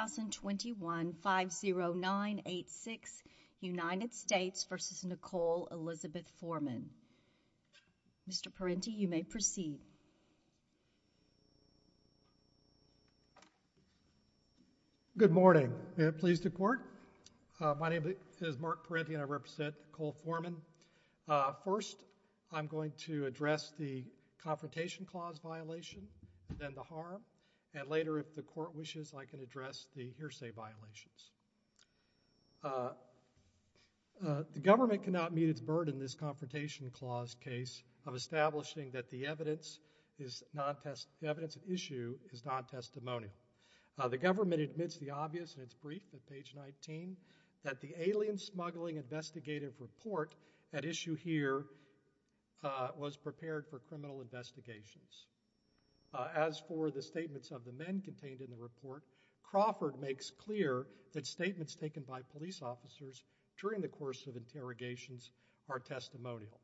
2021 50986 United States v. Nicole Elizabeth Foreman. Mr. Parenti, you may proceed. Good morning. May it please the Court? My name is Mark Parenti and I represent Nicole Foreman. First, I'm going to address the Confrontation Clause violation, then the harm, and later if the Court wishes, I can address the hearsay violations. The government cannot meet its burden in this Confrontation Clause case of establishing that the evidence of issue is non-testimonial. The government admits the obvious in its brief at page 19, that the alien smuggling investigative report at issue here was prepared for criminal investigations. As for the statements of the men contained in the report, Crawford makes clear that statements taken by police officers during the course of interrogations are testimonial.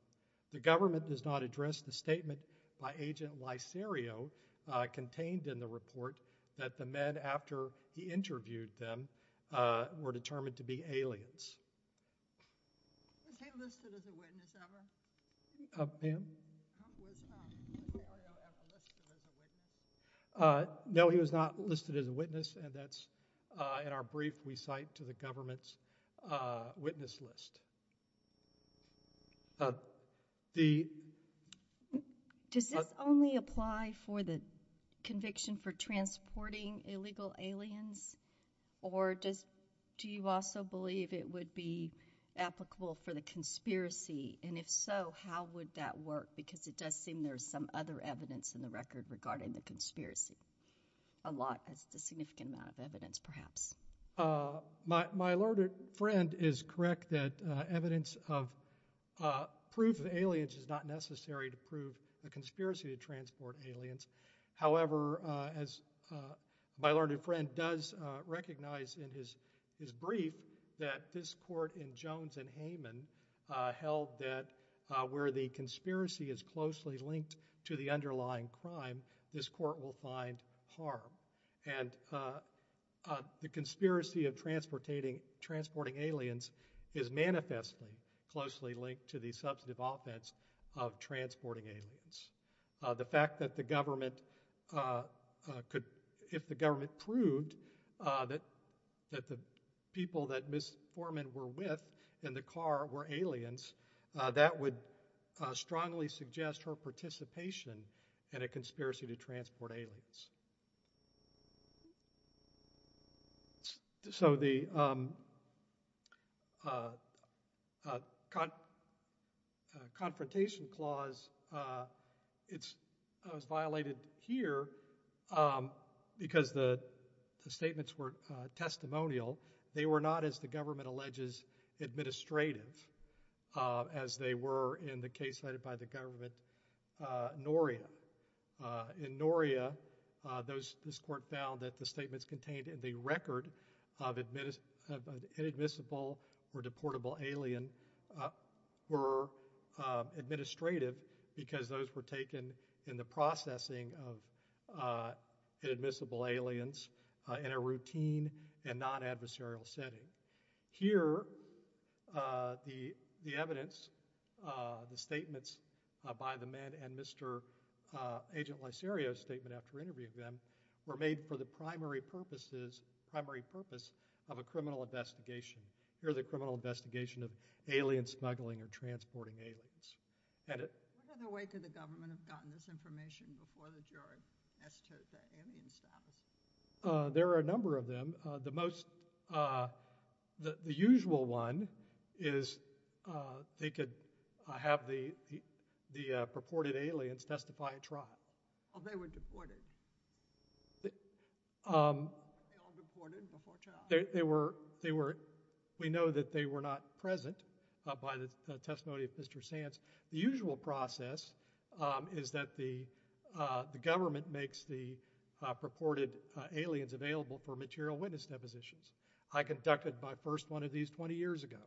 The government does not address the statement by Agent Lyserio contained in the report that the men after he interviewed them were determined to be aliens. Was he listed as a witness ever? Ma'am? Was Agent Lyserio ever listed as a witness? No, he was not listed as a witness and that's in our brief we cite to the government's witness list. Does this only apply for the conviction for transporting illegal aliens or do you also believe it would be applicable for the conspiracy and if so, how would that work because it does seem there's some other evidence in the record regarding the conspiracy, a lot, a significant amount of evidence perhaps. My alerted friend is correct that evidence of proof of aliens is not necessary to prove the conspiracy to transport aliens. However, as my alerted friend does recognize in his brief that this court in Jones and Hayman held that where the conspiracy is closely linked to the underlying crime, this court will find harm and the conspiracy of transporting aliens is manifestly closely linked to the substantive offense of transporting aliens. The fact that the government could, if the government proved that the people that Ms. Foreman were with in the car were aliens, that would strongly suggest her participation in a conspiracy to transport aliens. So the confrontation clause, it's violated here because the statements were testimonial. They were not as the government alleges administrative as they were in the case cited by the government in Noria. In Noria, this court found that the statements contained in the record of inadmissible or deportable alien were administrative because those were taken in the processing of inadmissible aliens in a routine and non-adversarial setting. Here, the evidence, the statements by the men and Mr. Agent Lacerio's statement after interviewing them were made for the primary purposes, primary purpose of a criminal investigation. Here the criminal investigation of alien smuggling or transporting aliens. What other way could the government have gotten this information before the jury as to the alien status? There are a number of them. The most, the usual one is they could have the purported aliens testify in trial. Oh, they were deported? They all deported before trial? They were, we know that they were not present by the testimony of Mr. Sands. The usual process is that the government makes the purported aliens available for material witness depositions. I conducted my first one of these 20 years ago.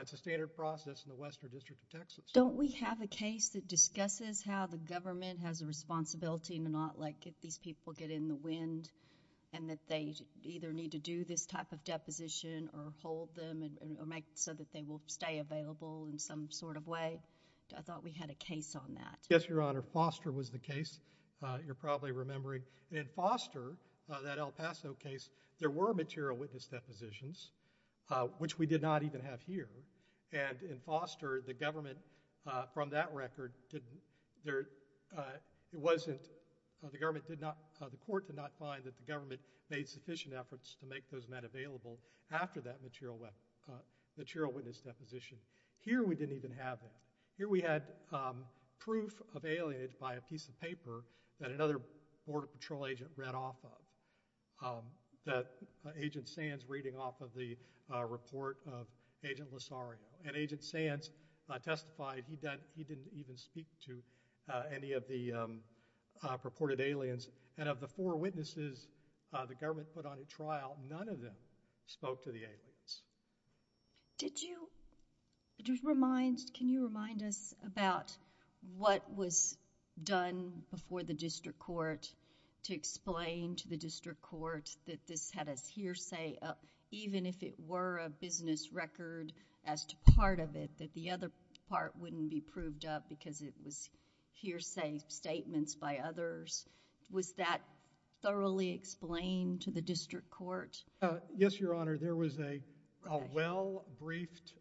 It's a standard process in the Western District of Texas. Don't we have a case that discusses how the government has a responsibility not like if these people get in the wind and that they either need to do this type of deposition or hold them or make so that they will stay available in some sort of way? I thought we had a case on that. Yes, Your Honor. Foster was the case. You're probably remembering. In Foster, that El Paso case, there were material witness depositions, which we did not even have here. And in Foster, the government from that record didn't, it wasn't, the government did not, the court did not find that the government made sufficient efforts to make those men available after that material witness deposition. Here, we didn't even have that. Here, we had proof of alienage by a piece of paper that another Border Patrol agent read off of, that Agent Sands reading off of the report of Agent Lozario. And Agent Sands testified he didn't even speak to any of the purported aliens. And of the four witnesses the government put on a trial, none of them spoke to the aliens. Did you, can you remind us about what was done before the district court to explain to the district court that this had a hearsay, even if it were a business record as to part of it, that the other part wouldn't be proved up because it was hearsay statements by others? Was that thoroughly explained to the district court? Yes, Your Honor. There was a well-briefed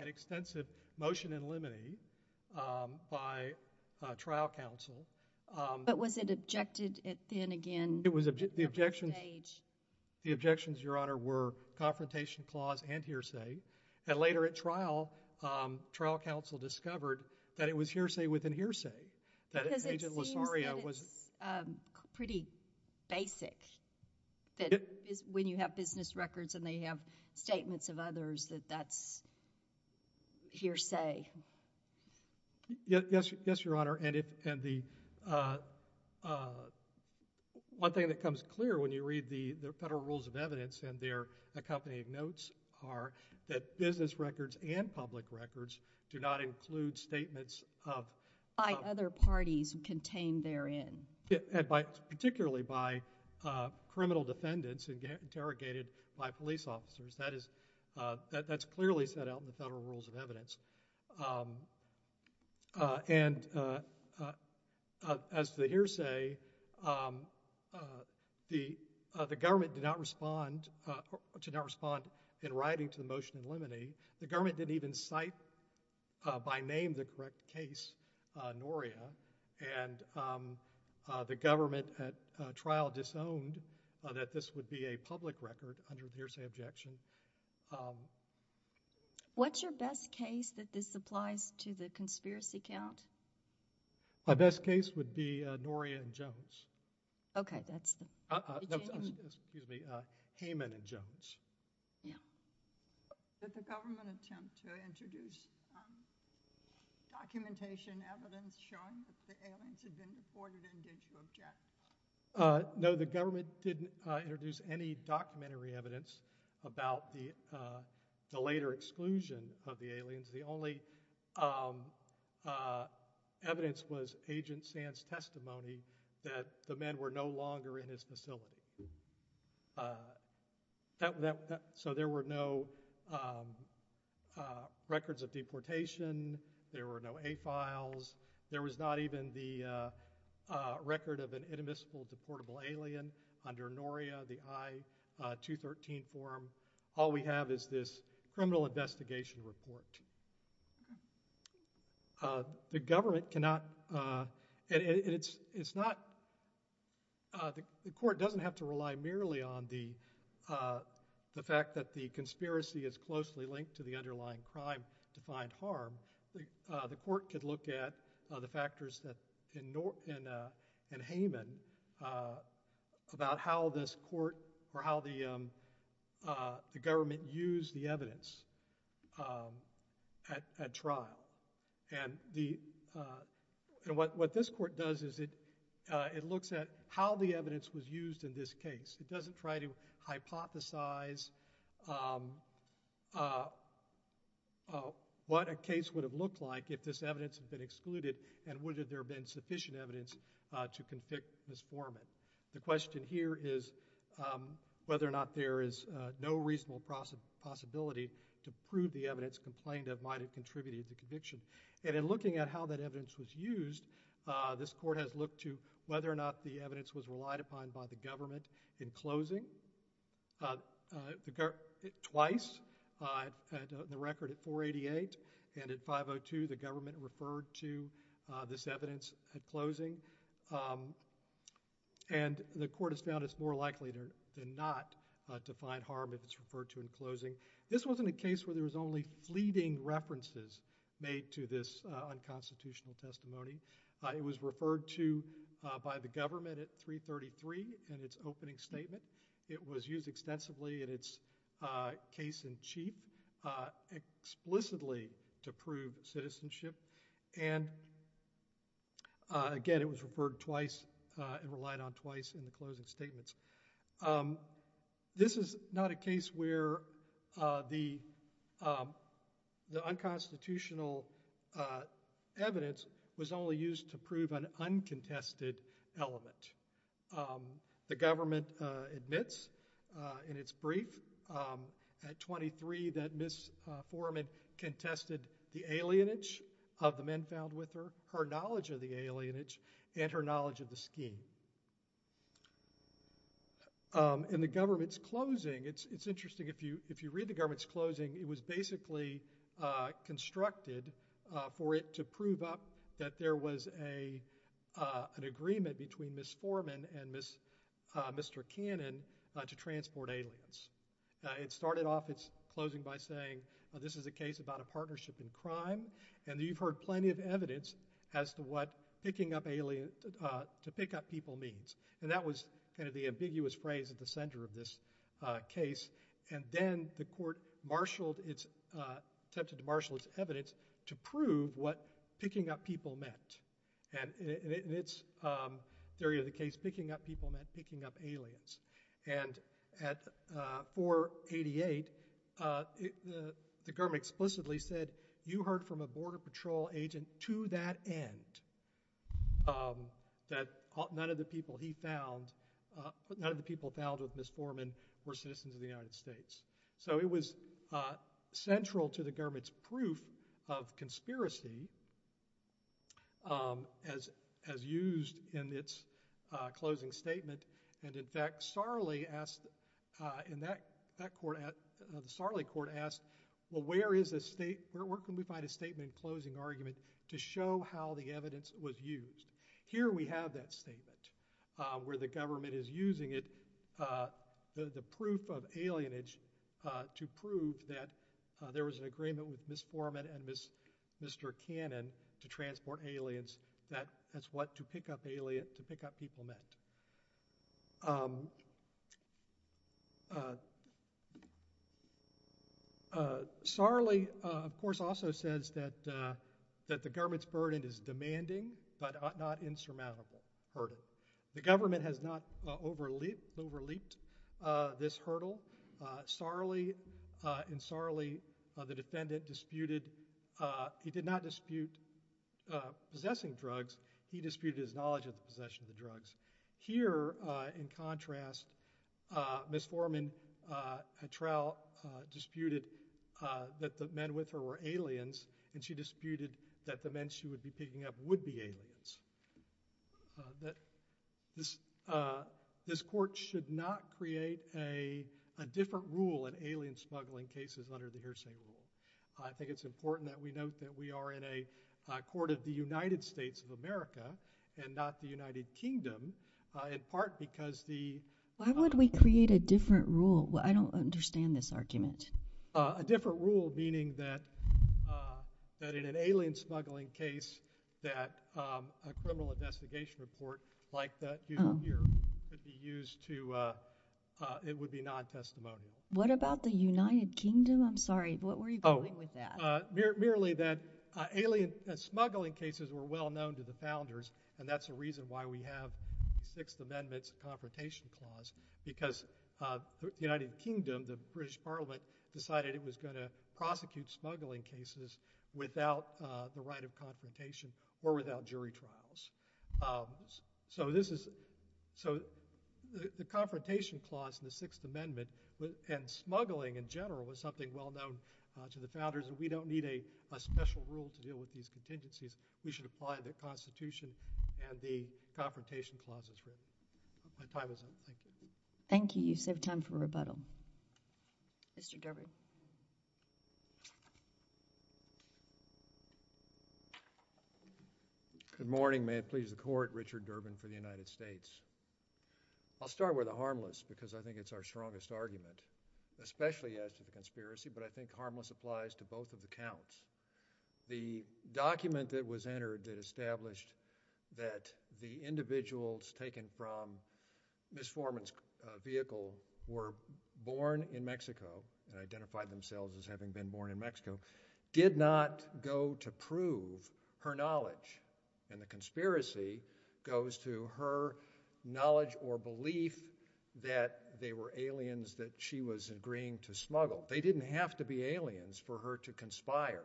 and extensive motion in limine by trial counsel. But was it objected then again? The objections, Your Honor, were confrontation clause and hearsay. And later at trial, trial counsel discovered that it was hearsay within hearsay. Because it seems that it's pretty basic, that when you have business records and they have statements of others, that that's hearsay. Yes, Your Honor. And the one thing that comes clear when you read the Federal Rules of Evidence and their accompanying notes are that business records and public records do not include statements of— By other parties contained therein. Particularly by criminal defendants interrogated by police officers. That is, that's clearly set out in the Federal Rules of Evidence. And as to the hearsay, the government did not respond in writing to the motion in limine. The government didn't even cite by name the correct case, Noria. And the government at trial disowned that this would be a public record under the hearsay objection. What's your best case that this applies to the conspiracy count? My best case would be Noria and Jones. Okay, that's the genuine— No, excuse me, Heyman and Jones. Yeah. Did the government attempt to introduce documentation, evidence showing that the aliens had been reported and did you object? No, the government didn't introduce any documentary evidence about the later exclusion of the aliens. The only evidence was Agent Sand's testimony that the men were no longer in his facility. So there were no records of deportation. There were no A-files. There was not even the record of an inadmissible deportable alien under Noria, the I-213 form. All we have is this criminal investigation report. The government cannot—and it's not—the court doesn't have to rely merely on the fact that the conspiracy is closely linked to the underlying crime to find harm. The court could look at the factors in Heyman about how this court or how the government used the evidence at trial. What this court does is it looks at how the evidence was used in this case. It doesn't try to hypothesize what a case would have looked like if this evidence had been excluded and would there have been sufficient evidence to convict this foreman. The question here is whether or not there is no reasonable possibility to prove the evidence complained of might have contributed to conviction. And in looking at how that evidence was used, this court has looked to whether or not the evidence was used in closing. Twice, the record at 488 and at 502, the government referred to this evidence at closing. And the court has found it's more likely than not to find harm if it's referred to in closing. This wasn't a case where there was only fleeting references made to this unconstitutional testimony. It was referred to by the government at 333 in its opening statement. It was used extensively in its case in chief explicitly to prove citizenship. And again, it was referred twice and relied on twice in the closing statements. This is not a case where the unconstitutional evidence was only used to prove an uncontested element. The government admits in its brief at 23 that Ms. Foreman contested the alienage of the men found with her, her knowledge of the alienage, and her knowledge of the scheme. In the government's closing, it's interesting, if you read the government's closing, it was basically constructed for it to prove up that there was an agreement between Ms. Foreman and Mr. Cannon to transport aliens. It started off its closing by saying, this is a case about a partnership in crime, and you've heard plenty of evidence as to what picking up people means. And that was kind of the ambiguous phrase at the center of this case. And then the court attempted to marshal its evidence to prove what picking up people meant. And in its theory of the case, picking up people meant picking up aliens. And at 488, the government explicitly said, you heard from a border patrol agent to that end that none of the people he found, none of the people found with Ms. Foreman were citizens of the United States. So it was central to the government's proof of conspiracy as used in its closing statement. And in fact, Sarli asked, in that court, the Sarli court asked, well, where can we find a statement closing argument to show how the evidence was used? Here we have that statement where the government is using it, the proof of alienage to prove that there was an agreement with Ms. Foreman and Mr. Cannon to transport aliens, that's what to pick up people meant. Sarli, of course, also says that the government's burden is demanding but not insurmountable burden. The government has not overleaped this hurdle. Sarli and Sarli, the defendant, disputed, he did not dispute possessing drugs, he disputed his knowledge of the possession of the drugs. Here, in contrast, Ms. Foreman at trial disputed that the men with her were aliens and she disputed that the men she would be picking up would be aliens. This court should not create a different rule in alien smuggling cases under the hearsay rule. I think it's important that we note that we are in a court of the United States of America and not the United Kingdom in part because the— Why would we create a different rule? I don't understand this argument. A different rule meaning that in an alien smuggling case that a criminal investigation report like that used here would be used to—it would be non-testimonial. What about the United Kingdom? I'm sorry, what were you going with that? Merely that alien smuggling cases were well known to the founders and that's the reason why we have the Sixth Amendment's Confrontation Clause because the United Kingdom, the British Parliament, decided it was going to prosecute smuggling cases without the right of confrontation or without jury trials. So this is—so the Confrontation Clause in the Sixth Amendment and smuggling in general was something well known to the founders and we don't need a special rule to deal with these contingencies. We should apply the Constitution and the Confrontation Clause as written. My time is up. Thank you. Thank you. You save time for rebuttal. Mr. Durbin. Good morning. May it please the Court, Richard Durbin for the United States. I'll start with the harmless because I think it's our strongest argument, especially as to the conspiracy, but I think harmless applies to both of the counts. The document that was entered that established that the individuals taken from Ms. Forman's vehicle were born in Mexico and identified themselves as having been born in Mexico did not go to prove her knowledge and the conspiracy goes to her knowledge or belief that they were aliens that she was agreeing to smuggle. They didn't have to be aliens for her to conspire.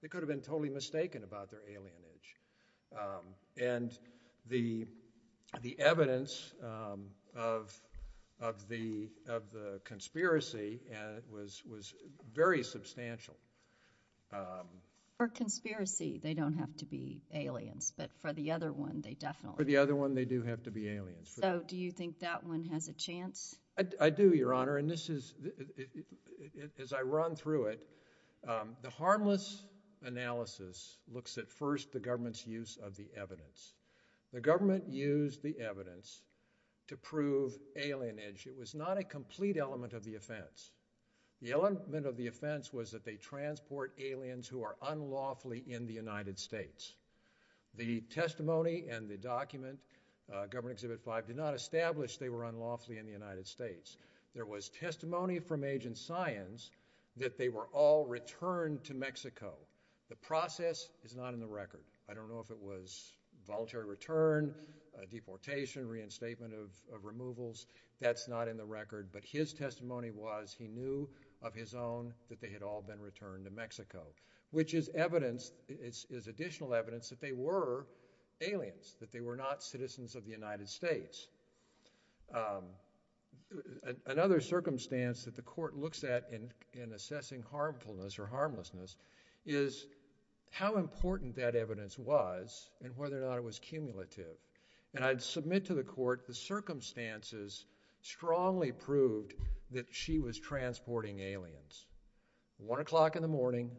They could have been totally mistaken about their alienage. And the evidence of the conspiracy was very substantial. For conspiracy, they don't have to be aliens, but for the other one, they definitely— So do you think that one has a chance? I do, Your Honor, and this is—as I run through it, the harmless analysis looks at first the government's use of the evidence. The government used the evidence to prove alienage. It was not a complete element of the offense. The element of the offense was that they transport aliens who are unlawfully in the United States. The testimony and the document, Government Exhibit 5, did not establish they were unlawfully in the United States. There was testimony from Agent Science that they were all returned to Mexico. The process is not in the record. I don't know if it was voluntary return, deportation, reinstatement of removals. That's not in the record. But his testimony was he knew of his own that they had all been returned to Mexico, which is evidence—is additional evidence that they were aliens, that they were not citizens of the United States. Another circumstance that the court looks at in assessing harmfulness or harmlessness is how important that evidence was and whether or not it was cumulative. And I'd submit to the court the circumstances strongly proved that she was transporting aliens. One o'clock in the morning,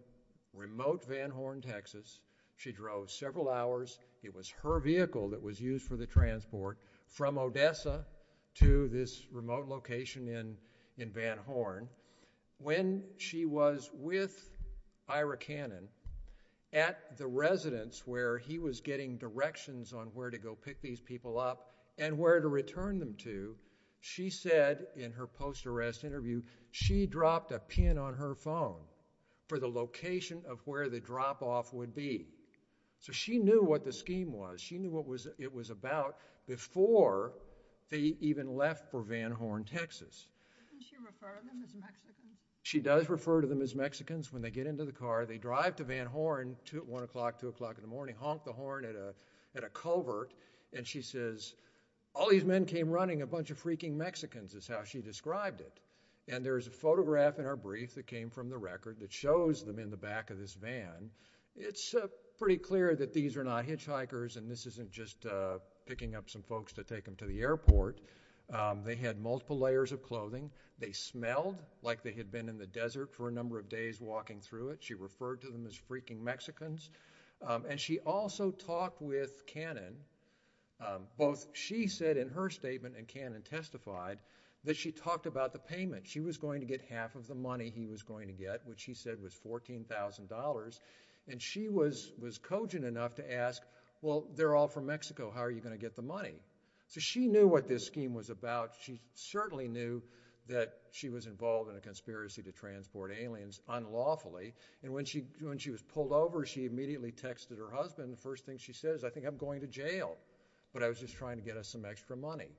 remote Van Horn, Texas. She drove several hours. It was her vehicle that was used for the transport from Odessa to this remote location in Van Horn. When she was with Ira Cannon at the residence where he was getting directions on where to go pick these people up and where to return them to, she said in her post-arrest interview, she dropped a pin on her phone for the location of where the drop-off would be. So she knew what the scheme was. She knew what it was about before they even left for Van Horn, Texas. Didn't she refer to them as Mexicans? She does refer to them as Mexicans when they get into the car. They drive to Van Horn at 1 o'clock, 2 o'clock in the morning, honk the horn at a covert, and she says, all these men came running, a bunch of freaking Mexicans is how she described it. And there's a photograph in her brief that came from the record that shows them in the back of this van. It's pretty clear that these are not hitchhikers, and this isn't just picking up some folks to take them to the airport. They had multiple layers of clothing. They smelled like they had been in the desert for a number of days walking through it. She referred to them as freaking Mexicans. And she also talked with Cannon. Both she said in her statement and Cannon testified that she talked about the payment. She was going to get half of the money he was going to get, which he said was $14,000. And she was cogent enough to ask, well, they're all from Mexico. How are you going to get the money? So she knew what this scheme was about. She certainly knew that she was involved in a conspiracy to transport aliens unlawfully. And when she was pulled over, she immediately texted her husband. The first thing she said is, I think I'm going to jail, but I was just trying to get us some extra money.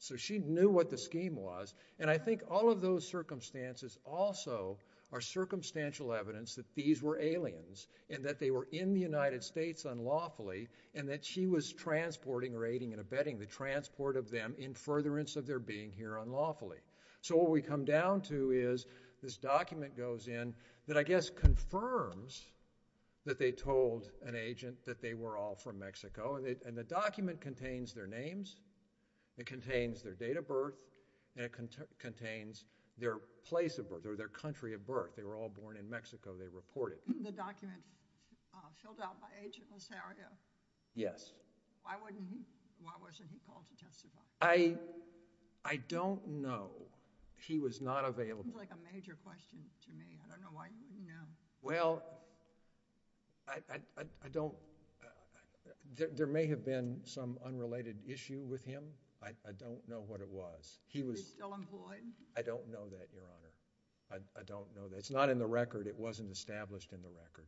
So she knew what the scheme was. And I think all of those circumstances also are circumstantial evidence that these were aliens and that they were in the United States unlawfully and that she was transporting, raiding, and abetting the transport of them in furtherance of their being here unlawfully. So what we come down to is this document goes in that I guess confirms that they told an agent that they were all from Mexico. And the document contains their names. It contains their date of birth. And it contains their place of birth or their country of birth. They were all born in Mexico, they reported. The document filled out by Agent Lozario? Yes. Why wasn't he called to testify? I don't know. He was not available. It seems like a major question to me. I don't know why you wouldn't know. Well, I don't. There may have been some unrelated issue with him. I don't know what it was. He was still employed? I don't know that, Your Honor. It's not in the record. It wasn't established in the record.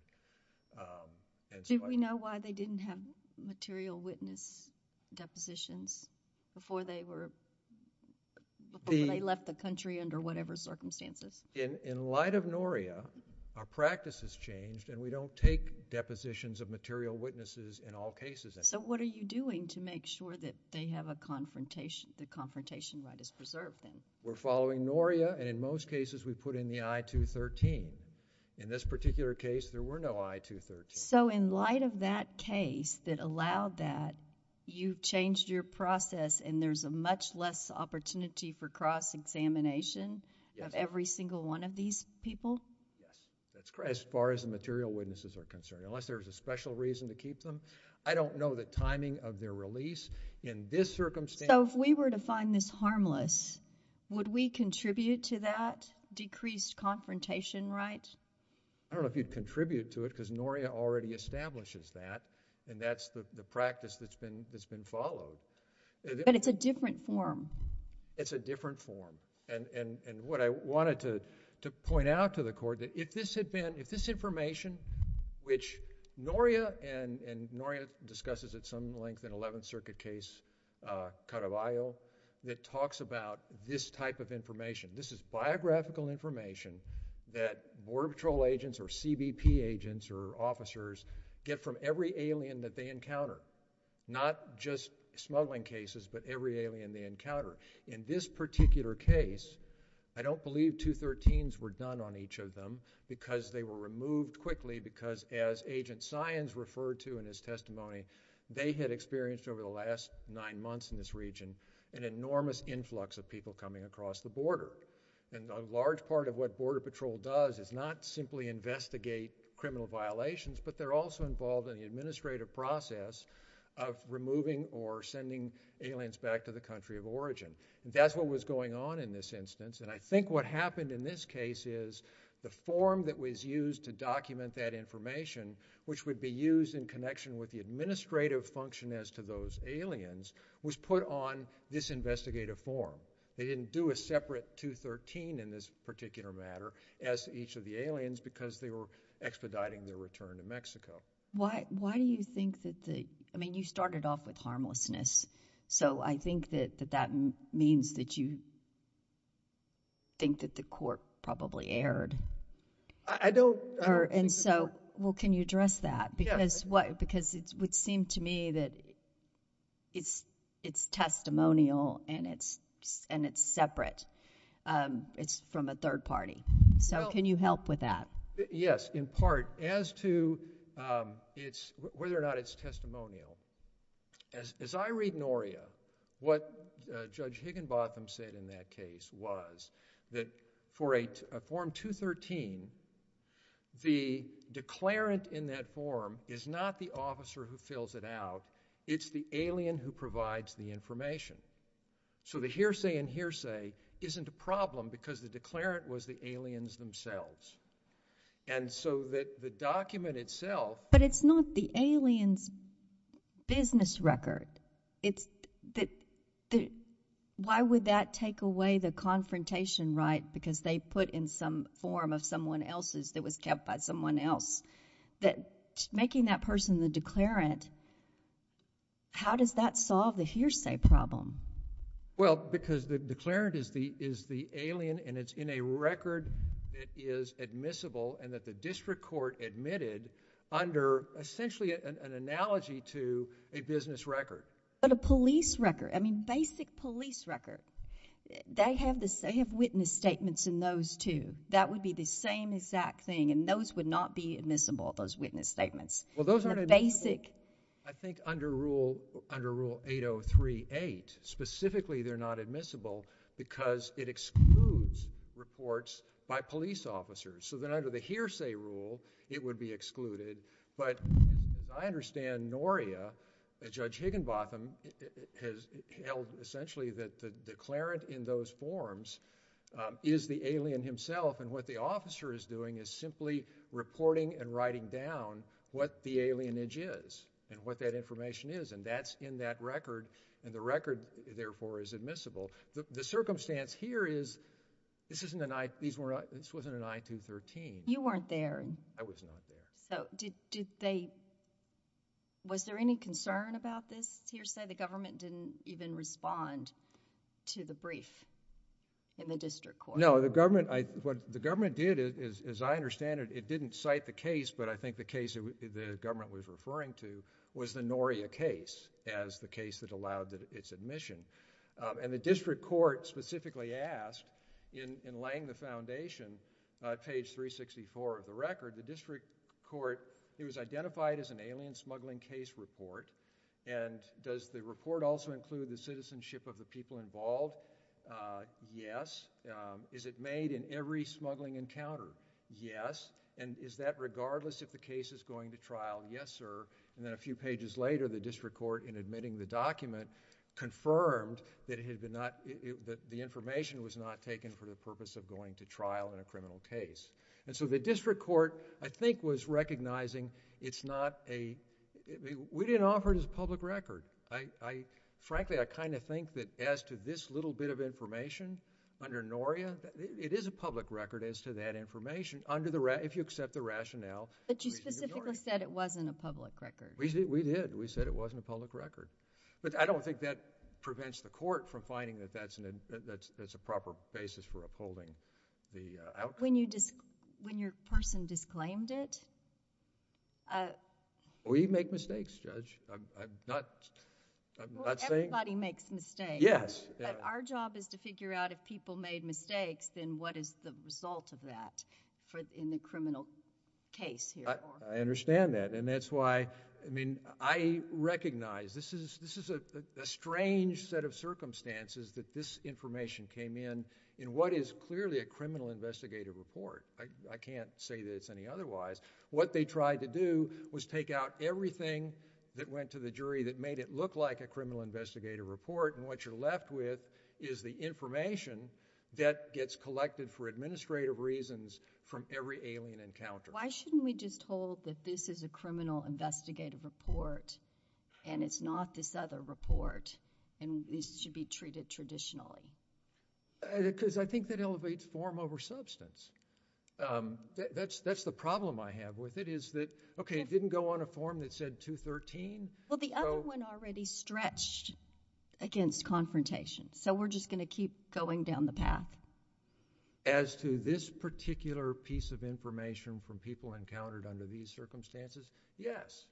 Did we know why they didn't have material witness depositions before they left the country under whatever circumstances? In light of NORIA, our practice has changed and we don't take depositions of material witnesses in all cases. So what are you doing to make sure that they have a confrontation, the confrontation right is preserved then? We're following NORIA and in most cases we put in the I-213. In this particular case, there were no I-213s. So in light of that case that allowed that, you changed your process and there's a much less opportunity for cross-examination of every single one of these people? Yes, that's correct as far as the material witnesses are concerned. Unless there's a special reason to keep them, I don't know the timing of their release. In this circumstance... So if we were to find this harmless, would we contribute to that decreased confrontation right? I don't know if you'd contribute to it because NORIA already establishes that and that's the practice that's been followed. But it's a different form. It's a different form and what I wanted to point out to the Court that if this information which NORIA and NORIA discusses at some length in the Eleventh Circuit case, Caravaglio, that talks about this type of information. This is biographical information that Border Patrol agents or CBP agents or officers get from every alien that they encounter. Not just smuggling cases, but every alien they encounter. In this particular case, I don't believe I-213s were done on each of them because they were removed quickly because as Agent Saenz referred to in his testimony, they had experienced over the last nine months in this region an enormous influx of people coming across the border. A large part of what Border Patrol does is not simply investigate criminal violations, but they're also involved in the administrative process of removing or sending aliens back to the country of origin. That's what was going on in this instance and I think what happened in this case is the form that was used to document that information, which would be used in connection with the administrative function as to those aliens, was put on this investigative form. They didn't do a separate 213 in this particular matter as each of the aliens because they were expediting their return to Mexico. Why do you think that the-I mean, you started off with harmlessness, so I think that that means that you think that the Court probably erred. I don't think that- Well, can you address that? Because it would seem to me that it's testimonial and it's separate. It's from a third party, so can you help with that? Yes, in part. As to whether or not it's testimonial, as I read NORIA, what Judge Higginbotham said in that case was that for a form 213, the declarant in that form is not the officer who fills it out. It's the alien who provides the information. So the hearsay and hearsay isn't a problem because the declarant was the aliens themselves. And so the document itself- But the alien's business record, why would that take away the confrontation right because they put in some form of someone else's that was kept by someone else? Making that person the declarant, how does that solve the hearsay problem? Well, because the declarant is the alien and it's in a record that is admissible and that the district court admitted under essentially an analogy to a business record. But a police record, I mean, basic police record. They have witness statements in those too. That would be the same exact thing and those would not be admissible, those witness statements. Well, those aren't admissible, I think, under Rule 8038. Specifically, they're not admissible because it excludes reports by police officers. So then under the hearsay rule, it would be excluded. But as I understand, NORIA, Judge Higginbotham, has held essentially that the declarant in those forms is the alien himself and what the officer is doing is simply reporting and writing down what the alienage is and what that information is and that's in that record and the record, therefore, is admissible. The circumstance here is this wasn't an I-213. You weren't there. I was not there. So was there any concern about this hearsay? The government didn't even respond to the brief in the district court. No. What the government did, as I understand it, it didn't cite the case, but I think the case the government was referring to was the NORIA case as the case that allowed its admission. And the district court specifically asked in laying the foundation, page 364 of the record, the district court, it was identified as an alien smuggling case report and does the report also include the citizenship of the people involved? Yes. Is it made in every smuggling encounter? Yes. And is that regardless if the case is going to trial? Yes, sir. And then a few pages later, the district court in admitting the document confirmed that the information was not taken for the purpose of going to trial in a criminal case. And so the district court, I think, was recognizing it's not a – we didn't offer it as a public record. Frankly, I kind of think that as to this little bit of information under NORIA, it is a public record as to that information if you accept the rationale. But you specifically said it wasn't a public record. We did. We said it wasn't a public record. But I don't think that prevents the court from finding that that's a proper basis for upholding the outcome. When your person disclaimed it? We make mistakes, Judge. I'm not saying – Well, everybody makes mistakes. Yes. But our job is to figure out if people made mistakes, then what is the result of that in the criminal case here? I understand that. And that's why – I recognize this is a strange set of circumstances that this information came in in what is clearly a criminal investigative report. I can't say that it's any otherwise. What they tried to do was take out everything that went to the jury that made it look like a criminal investigative report, and what you're left with is the information that gets collected for administrative reasons from every alien encounter. Why shouldn't we just hold that this is a criminal investigative report and it's not this other report and this should be treated traditionally? Because I think that elevates form over substance. That's the problem I have with it is that, okay, it didn't go on a form that said 213. Well, the other one already stretched against confrontation, so we're just going to keep going down the path. As to this particular piece of information from people encountered under these circumstances, yes.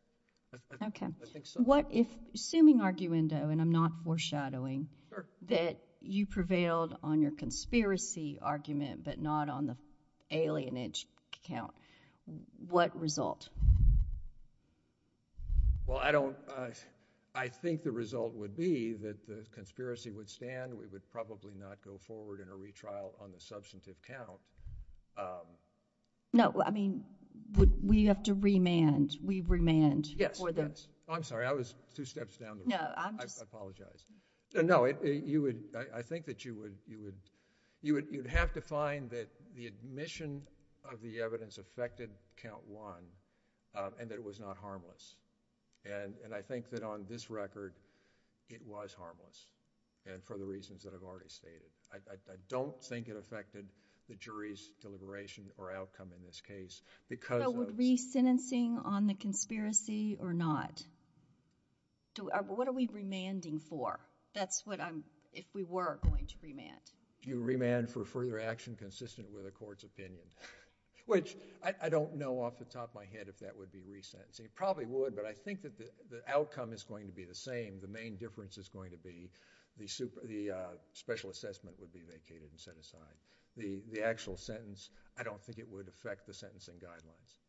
Okay. I think so. Assuming arguendo, and I'm not foreshadowing, that you prevailed on your conspiracy argument but not on the alienage count, what result? Well, I think the result would be that the conspiracy would stand. We would probably not go forward in a retrial on the substantive count. No. I mean, we have to remand. We remand for this. Yes. I'm sorry. I was two steps down the road. I apologize. No, I think that you would have to find that the admission of the evidence affected count one and that it was not harmless. And I think that on this record, it was harmless, and for the reasons that I've already stated. I don't think it affected the jury's deliberation or outcome in this case. But would re-sentencing on the conspiracy or not? What are we remanding for? That's what I'm—if we were going to remand. You remand for further action consistent with a court's opinion, which I don't know off the top of my head if that would be re-sentencing. It probably would, but I think that the outcome is going to be the same. The main difference is going to be the special assessment would be vacated and set aside. The actual sentence, I don't think it would affect the sentencing guidelines.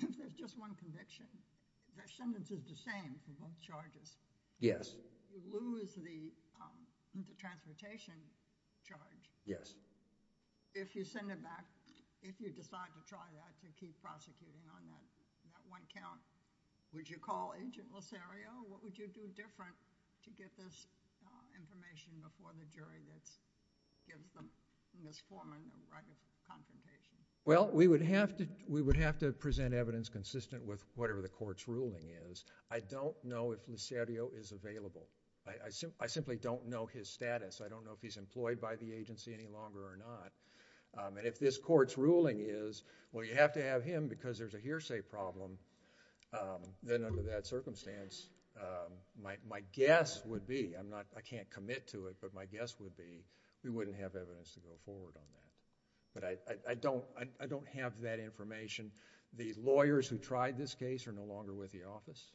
There's just one conviction. The sentence is the same for both charges. Yes. You lose the transportation charge. Yes. If you send it back, if you decide to try that, to keep prosecuting on that one count, would you call Agent Lucerio? What would you do different to get this information before the jury that gives Ms. Foreman the right of confrontation? Well, we would have to present evidence consistent with whatever the court's ruling is. I don't know if Lucerio is available. I simply don't know his status. I don't know if he's employed by the agency any longer or not. If this court's ruling is, well, you have to have him because there's a hearsay problem, then under that circumstance, my guess would be... I can't commit to it, but my guess would be we wouldn't have evidence to go forward on that. I don't have that information. The lawyers who tried this case are no longer with the office.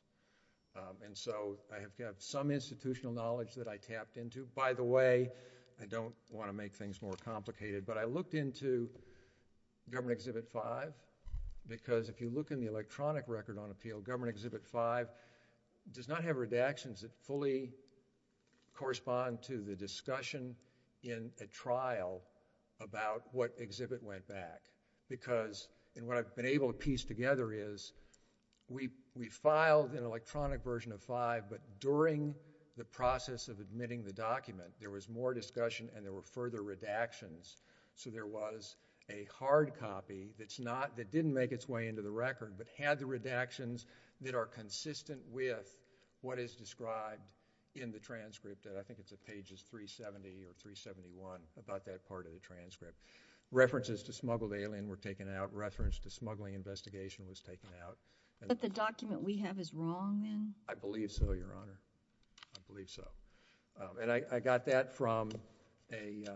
I have some institutional knowledge that I tapped into. By the way, I don't want to make things more complicated, but I looked into Government Exhibit 5 because if you look in the electronic record on appeal, Government Exhibit 5 does not have redactions that fully correspond to the discussion in a trial about what exhibit went back because... and what I've been able to piece together is we filed an electronic version of 5, but during the process of admitting the document, there was more discussion and there were further redactions, so there was a hard copy that's not... that didn't make its way into the record, but had the redactions that are consistent with what is described in the transcript. I think it's at pages 370 or 371 about that part of the transcript. References to smuggled alien were taken out. Reference to smuggling investigation was taken out. But the document we have is wrong then? I believe so, Your Honor. I believe so. And I got that from the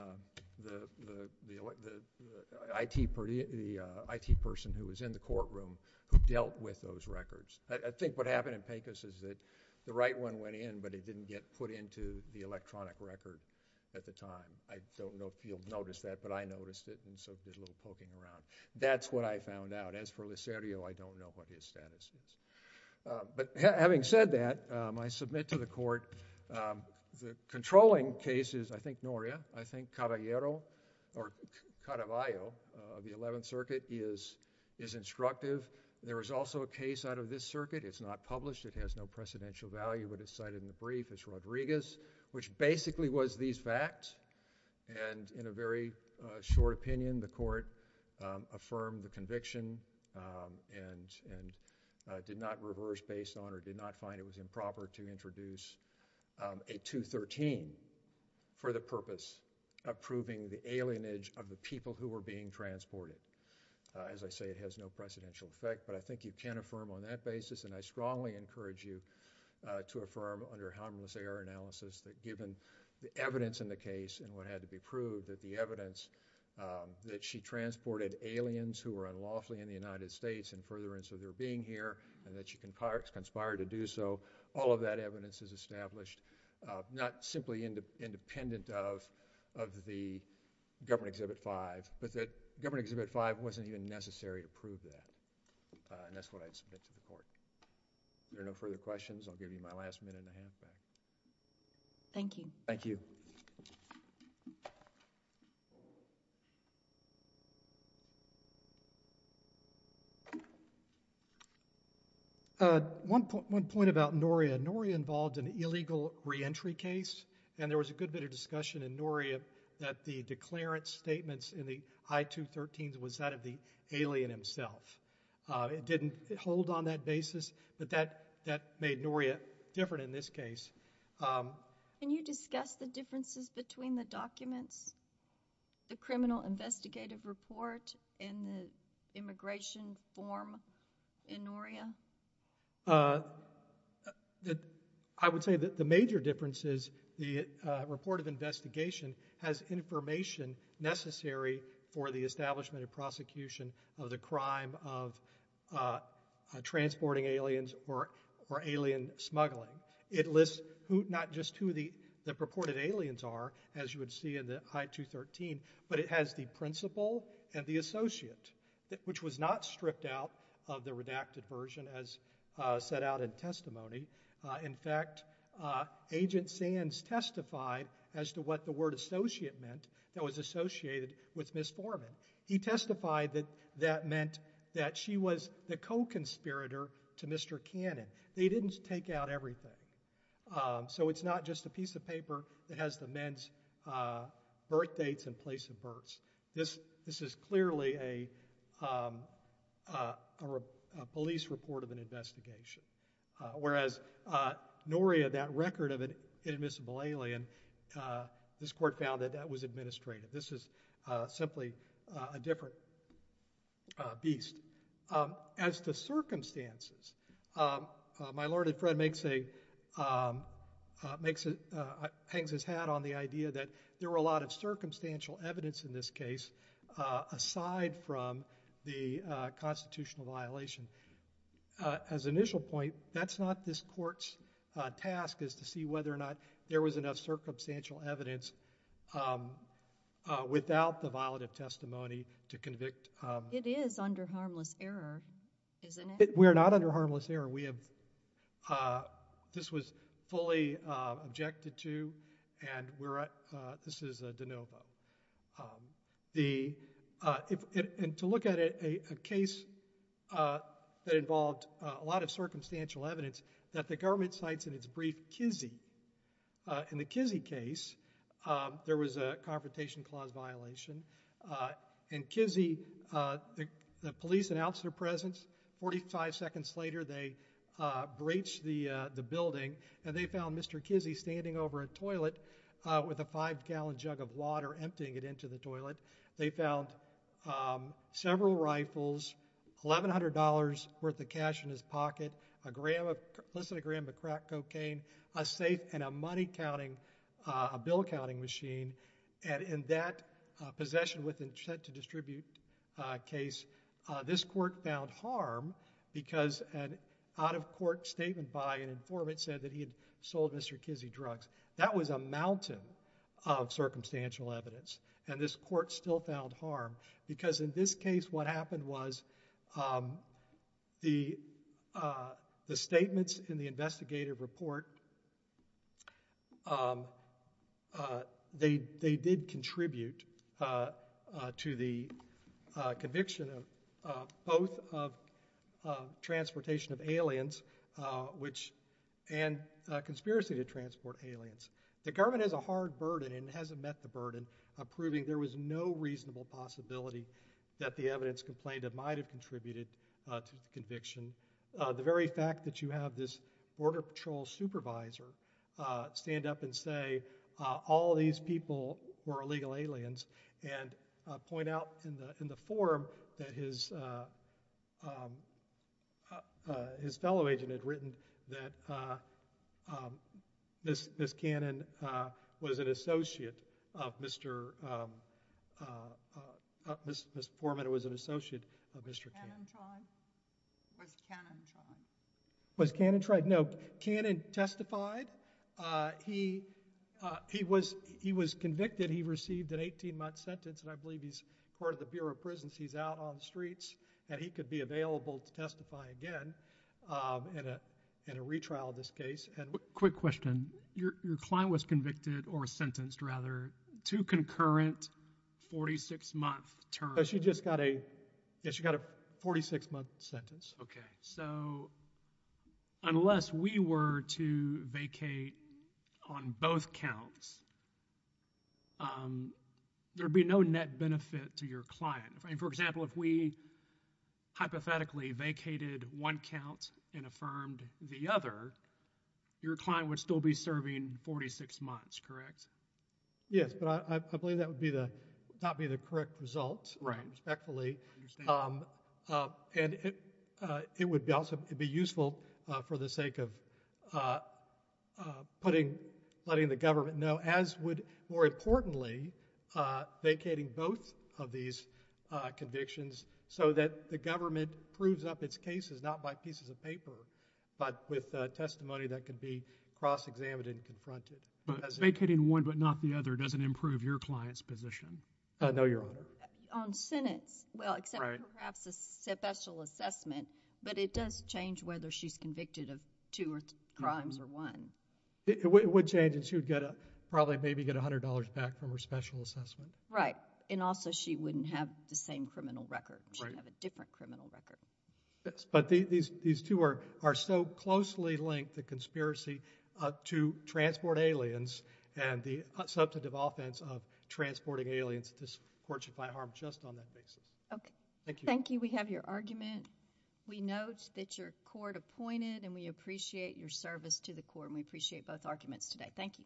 IT person who was in the courtroom who dealt with those records. I think what happened in Pecos is that the right one went in, but it didn't get put into the electronic record at the time. I don't know if you'll notice that, but I noticed it and so did a little poking around. That's what I found out. As for Lucerio, I don't know what his status is. But having said that, I submit to the court the controlling case is, I think, Noria. I think Caravaglio of the Eleventh Circuit is instructive. There is also a case out of this circuit. It's not published. It has no precedential value, but it's cited in the brief as Rodriguez, which basically was these facts. And in a very short opinion, the court affirmed the conviction and did not reverse based on or did not find it was improper to introduce a 213 for the purpose of proving the alienage of the people who were being transported. As I say, it has no precedential effect, but I think you can affirm on that basis, and I strongly encourage you to affirm under harmless error analysis that given the evidence in the case and what had to be proved, that the evidence that she transported aliens who were unlawfully in the United States in furtherance of their being here and that she conspired to do so, all of that evidence is established, not simply independent of the Government Exhibit 5, but that Government Exhibit 5 wasn't even necessary to prove that. And that's what I submit to the court. Are there no further questions? I'll give you my last minute and a half back. Thank you. Thank you. One point about Noria. Noria involved an illegal re-entry case, and there was a good bit of discussion in Noria that the declarant statements in the I-213s was that of the alien himself. It didn't hold on that basis, but that made Noria different in this case. Can you discuss the differences between the documents, the criminal investigative report, and the immigration form in Noria? I would say that the major difference is the report of investigation has information necessary for the establishment and prosecution of the crime of transporting aliens or alien smuggling. It lists not just who the purported aliens are, as you would see in the I-213, but it has the principal and the associate, which was not stripped out of the redacted version as set out in testimony. In fact, Agent Sands testified as to what the word associate meant that was associated with Miss Foreman. He testified that that meant that she was the co-conspirator to Mr. Cannon. They didn't take out everything, so it's not just a piece of paper that has the men's birthdates and place of births. This is clearly a police report of an investigation, whereas Noria, that record of an inadmissible alien, this court found that that was administrative. This is simply a different beast. As to circumstances, my learned friend hangs his hat on the idea that there were a lot of circumstantial evidence in this case aside from the constitutional violation. As an initial point, that's not this court's task, is to see whether or not there was enough circumstantial evidence without the violative testimony to convict. It is under harmless error, isn't it? We're not under harmless error. This was fully objected to, and this is de novo. To look at a case that involved a lot of circumstantial evidence, that the government cites in its brief, Kizzee. In the Kizzee case, there was a Confrontation Clause violation. In Kizzee, the police announced their presence. Forty-five seconds later, they breached the building, and they found Mr. Kizzee standing over a toilet with a five-gallon jug of water emptying it into the toilet. They found several rifles, $1,100 worth of cash in his pocket, a gram of crack cocaine, a safe, and a bill-counting machine. In that possession with intent to distribute case, this court found harm because an out-of-court statement by an informant said that he had sold Mr. Kizzee drugs. That was a mountain of circumstantial evidence, and this court still found harm because, in this case, what happened was the statements in the investigative report, they did contribute to the conviction of both of transportation of aliens and conspiracy to transport aliens. The government has a hard burden and hasn't met the burden of proving there was no reasonable possibility that the evidence complained of might have contributed to the conviction. The very fact that you have this Border Patrol supervisor stand up and say all these people were illegal aliens and point out in the form that his fellow agent had written that Ms. Forman was an associate of Mr. Cannon. Was Cannon tried? Was Cannon tried? No. Cannon testified. He was convicted. He received an 18-month sentence, and I believe he's part of the Bureau of Prisons. He's out on the streets, and he could be available to testify again in a retrial of this case. Quick question. Your client was convicted, or sentenced, rather, to concurrent 46-month terms. She just got a 46-month sentence. Okay. So unless we were to vacate on both counts, there would be no net benefit to your client. For example, if we hypothetically vacated one count and affirmed the other, your client would still be serving 46 months, correct? Yes, but I believe that would not be the correct result, respectfully. I understand that. And it would be useful for the sake of letting the government know, as would, more importantly, vacating both of these convictions so that the government proves up its cases not by pieces of paper but with testimony that could be cross-examined and confronted. But vacating one but not the other doesn't improve your client's position? No, Your Honor. On sentence, well, except perhaps a special assessment, but it does change whether she's convicted of two crimes or one. It would change, and she would probably maybe get $100 back from her special assessment. Right, and also she wouldn't have the same criminal record. She would have a different criminal record. But these two are so closely linked, the conspiracy to transport aliens and the substantive offense of transporting aliens, this court should find harm just on that basis. Okay. Thank you. Thank you. We have your argument. We note that your court appointed, and we appreciate your service to the court, and we appreciate both arguments today. Thank you.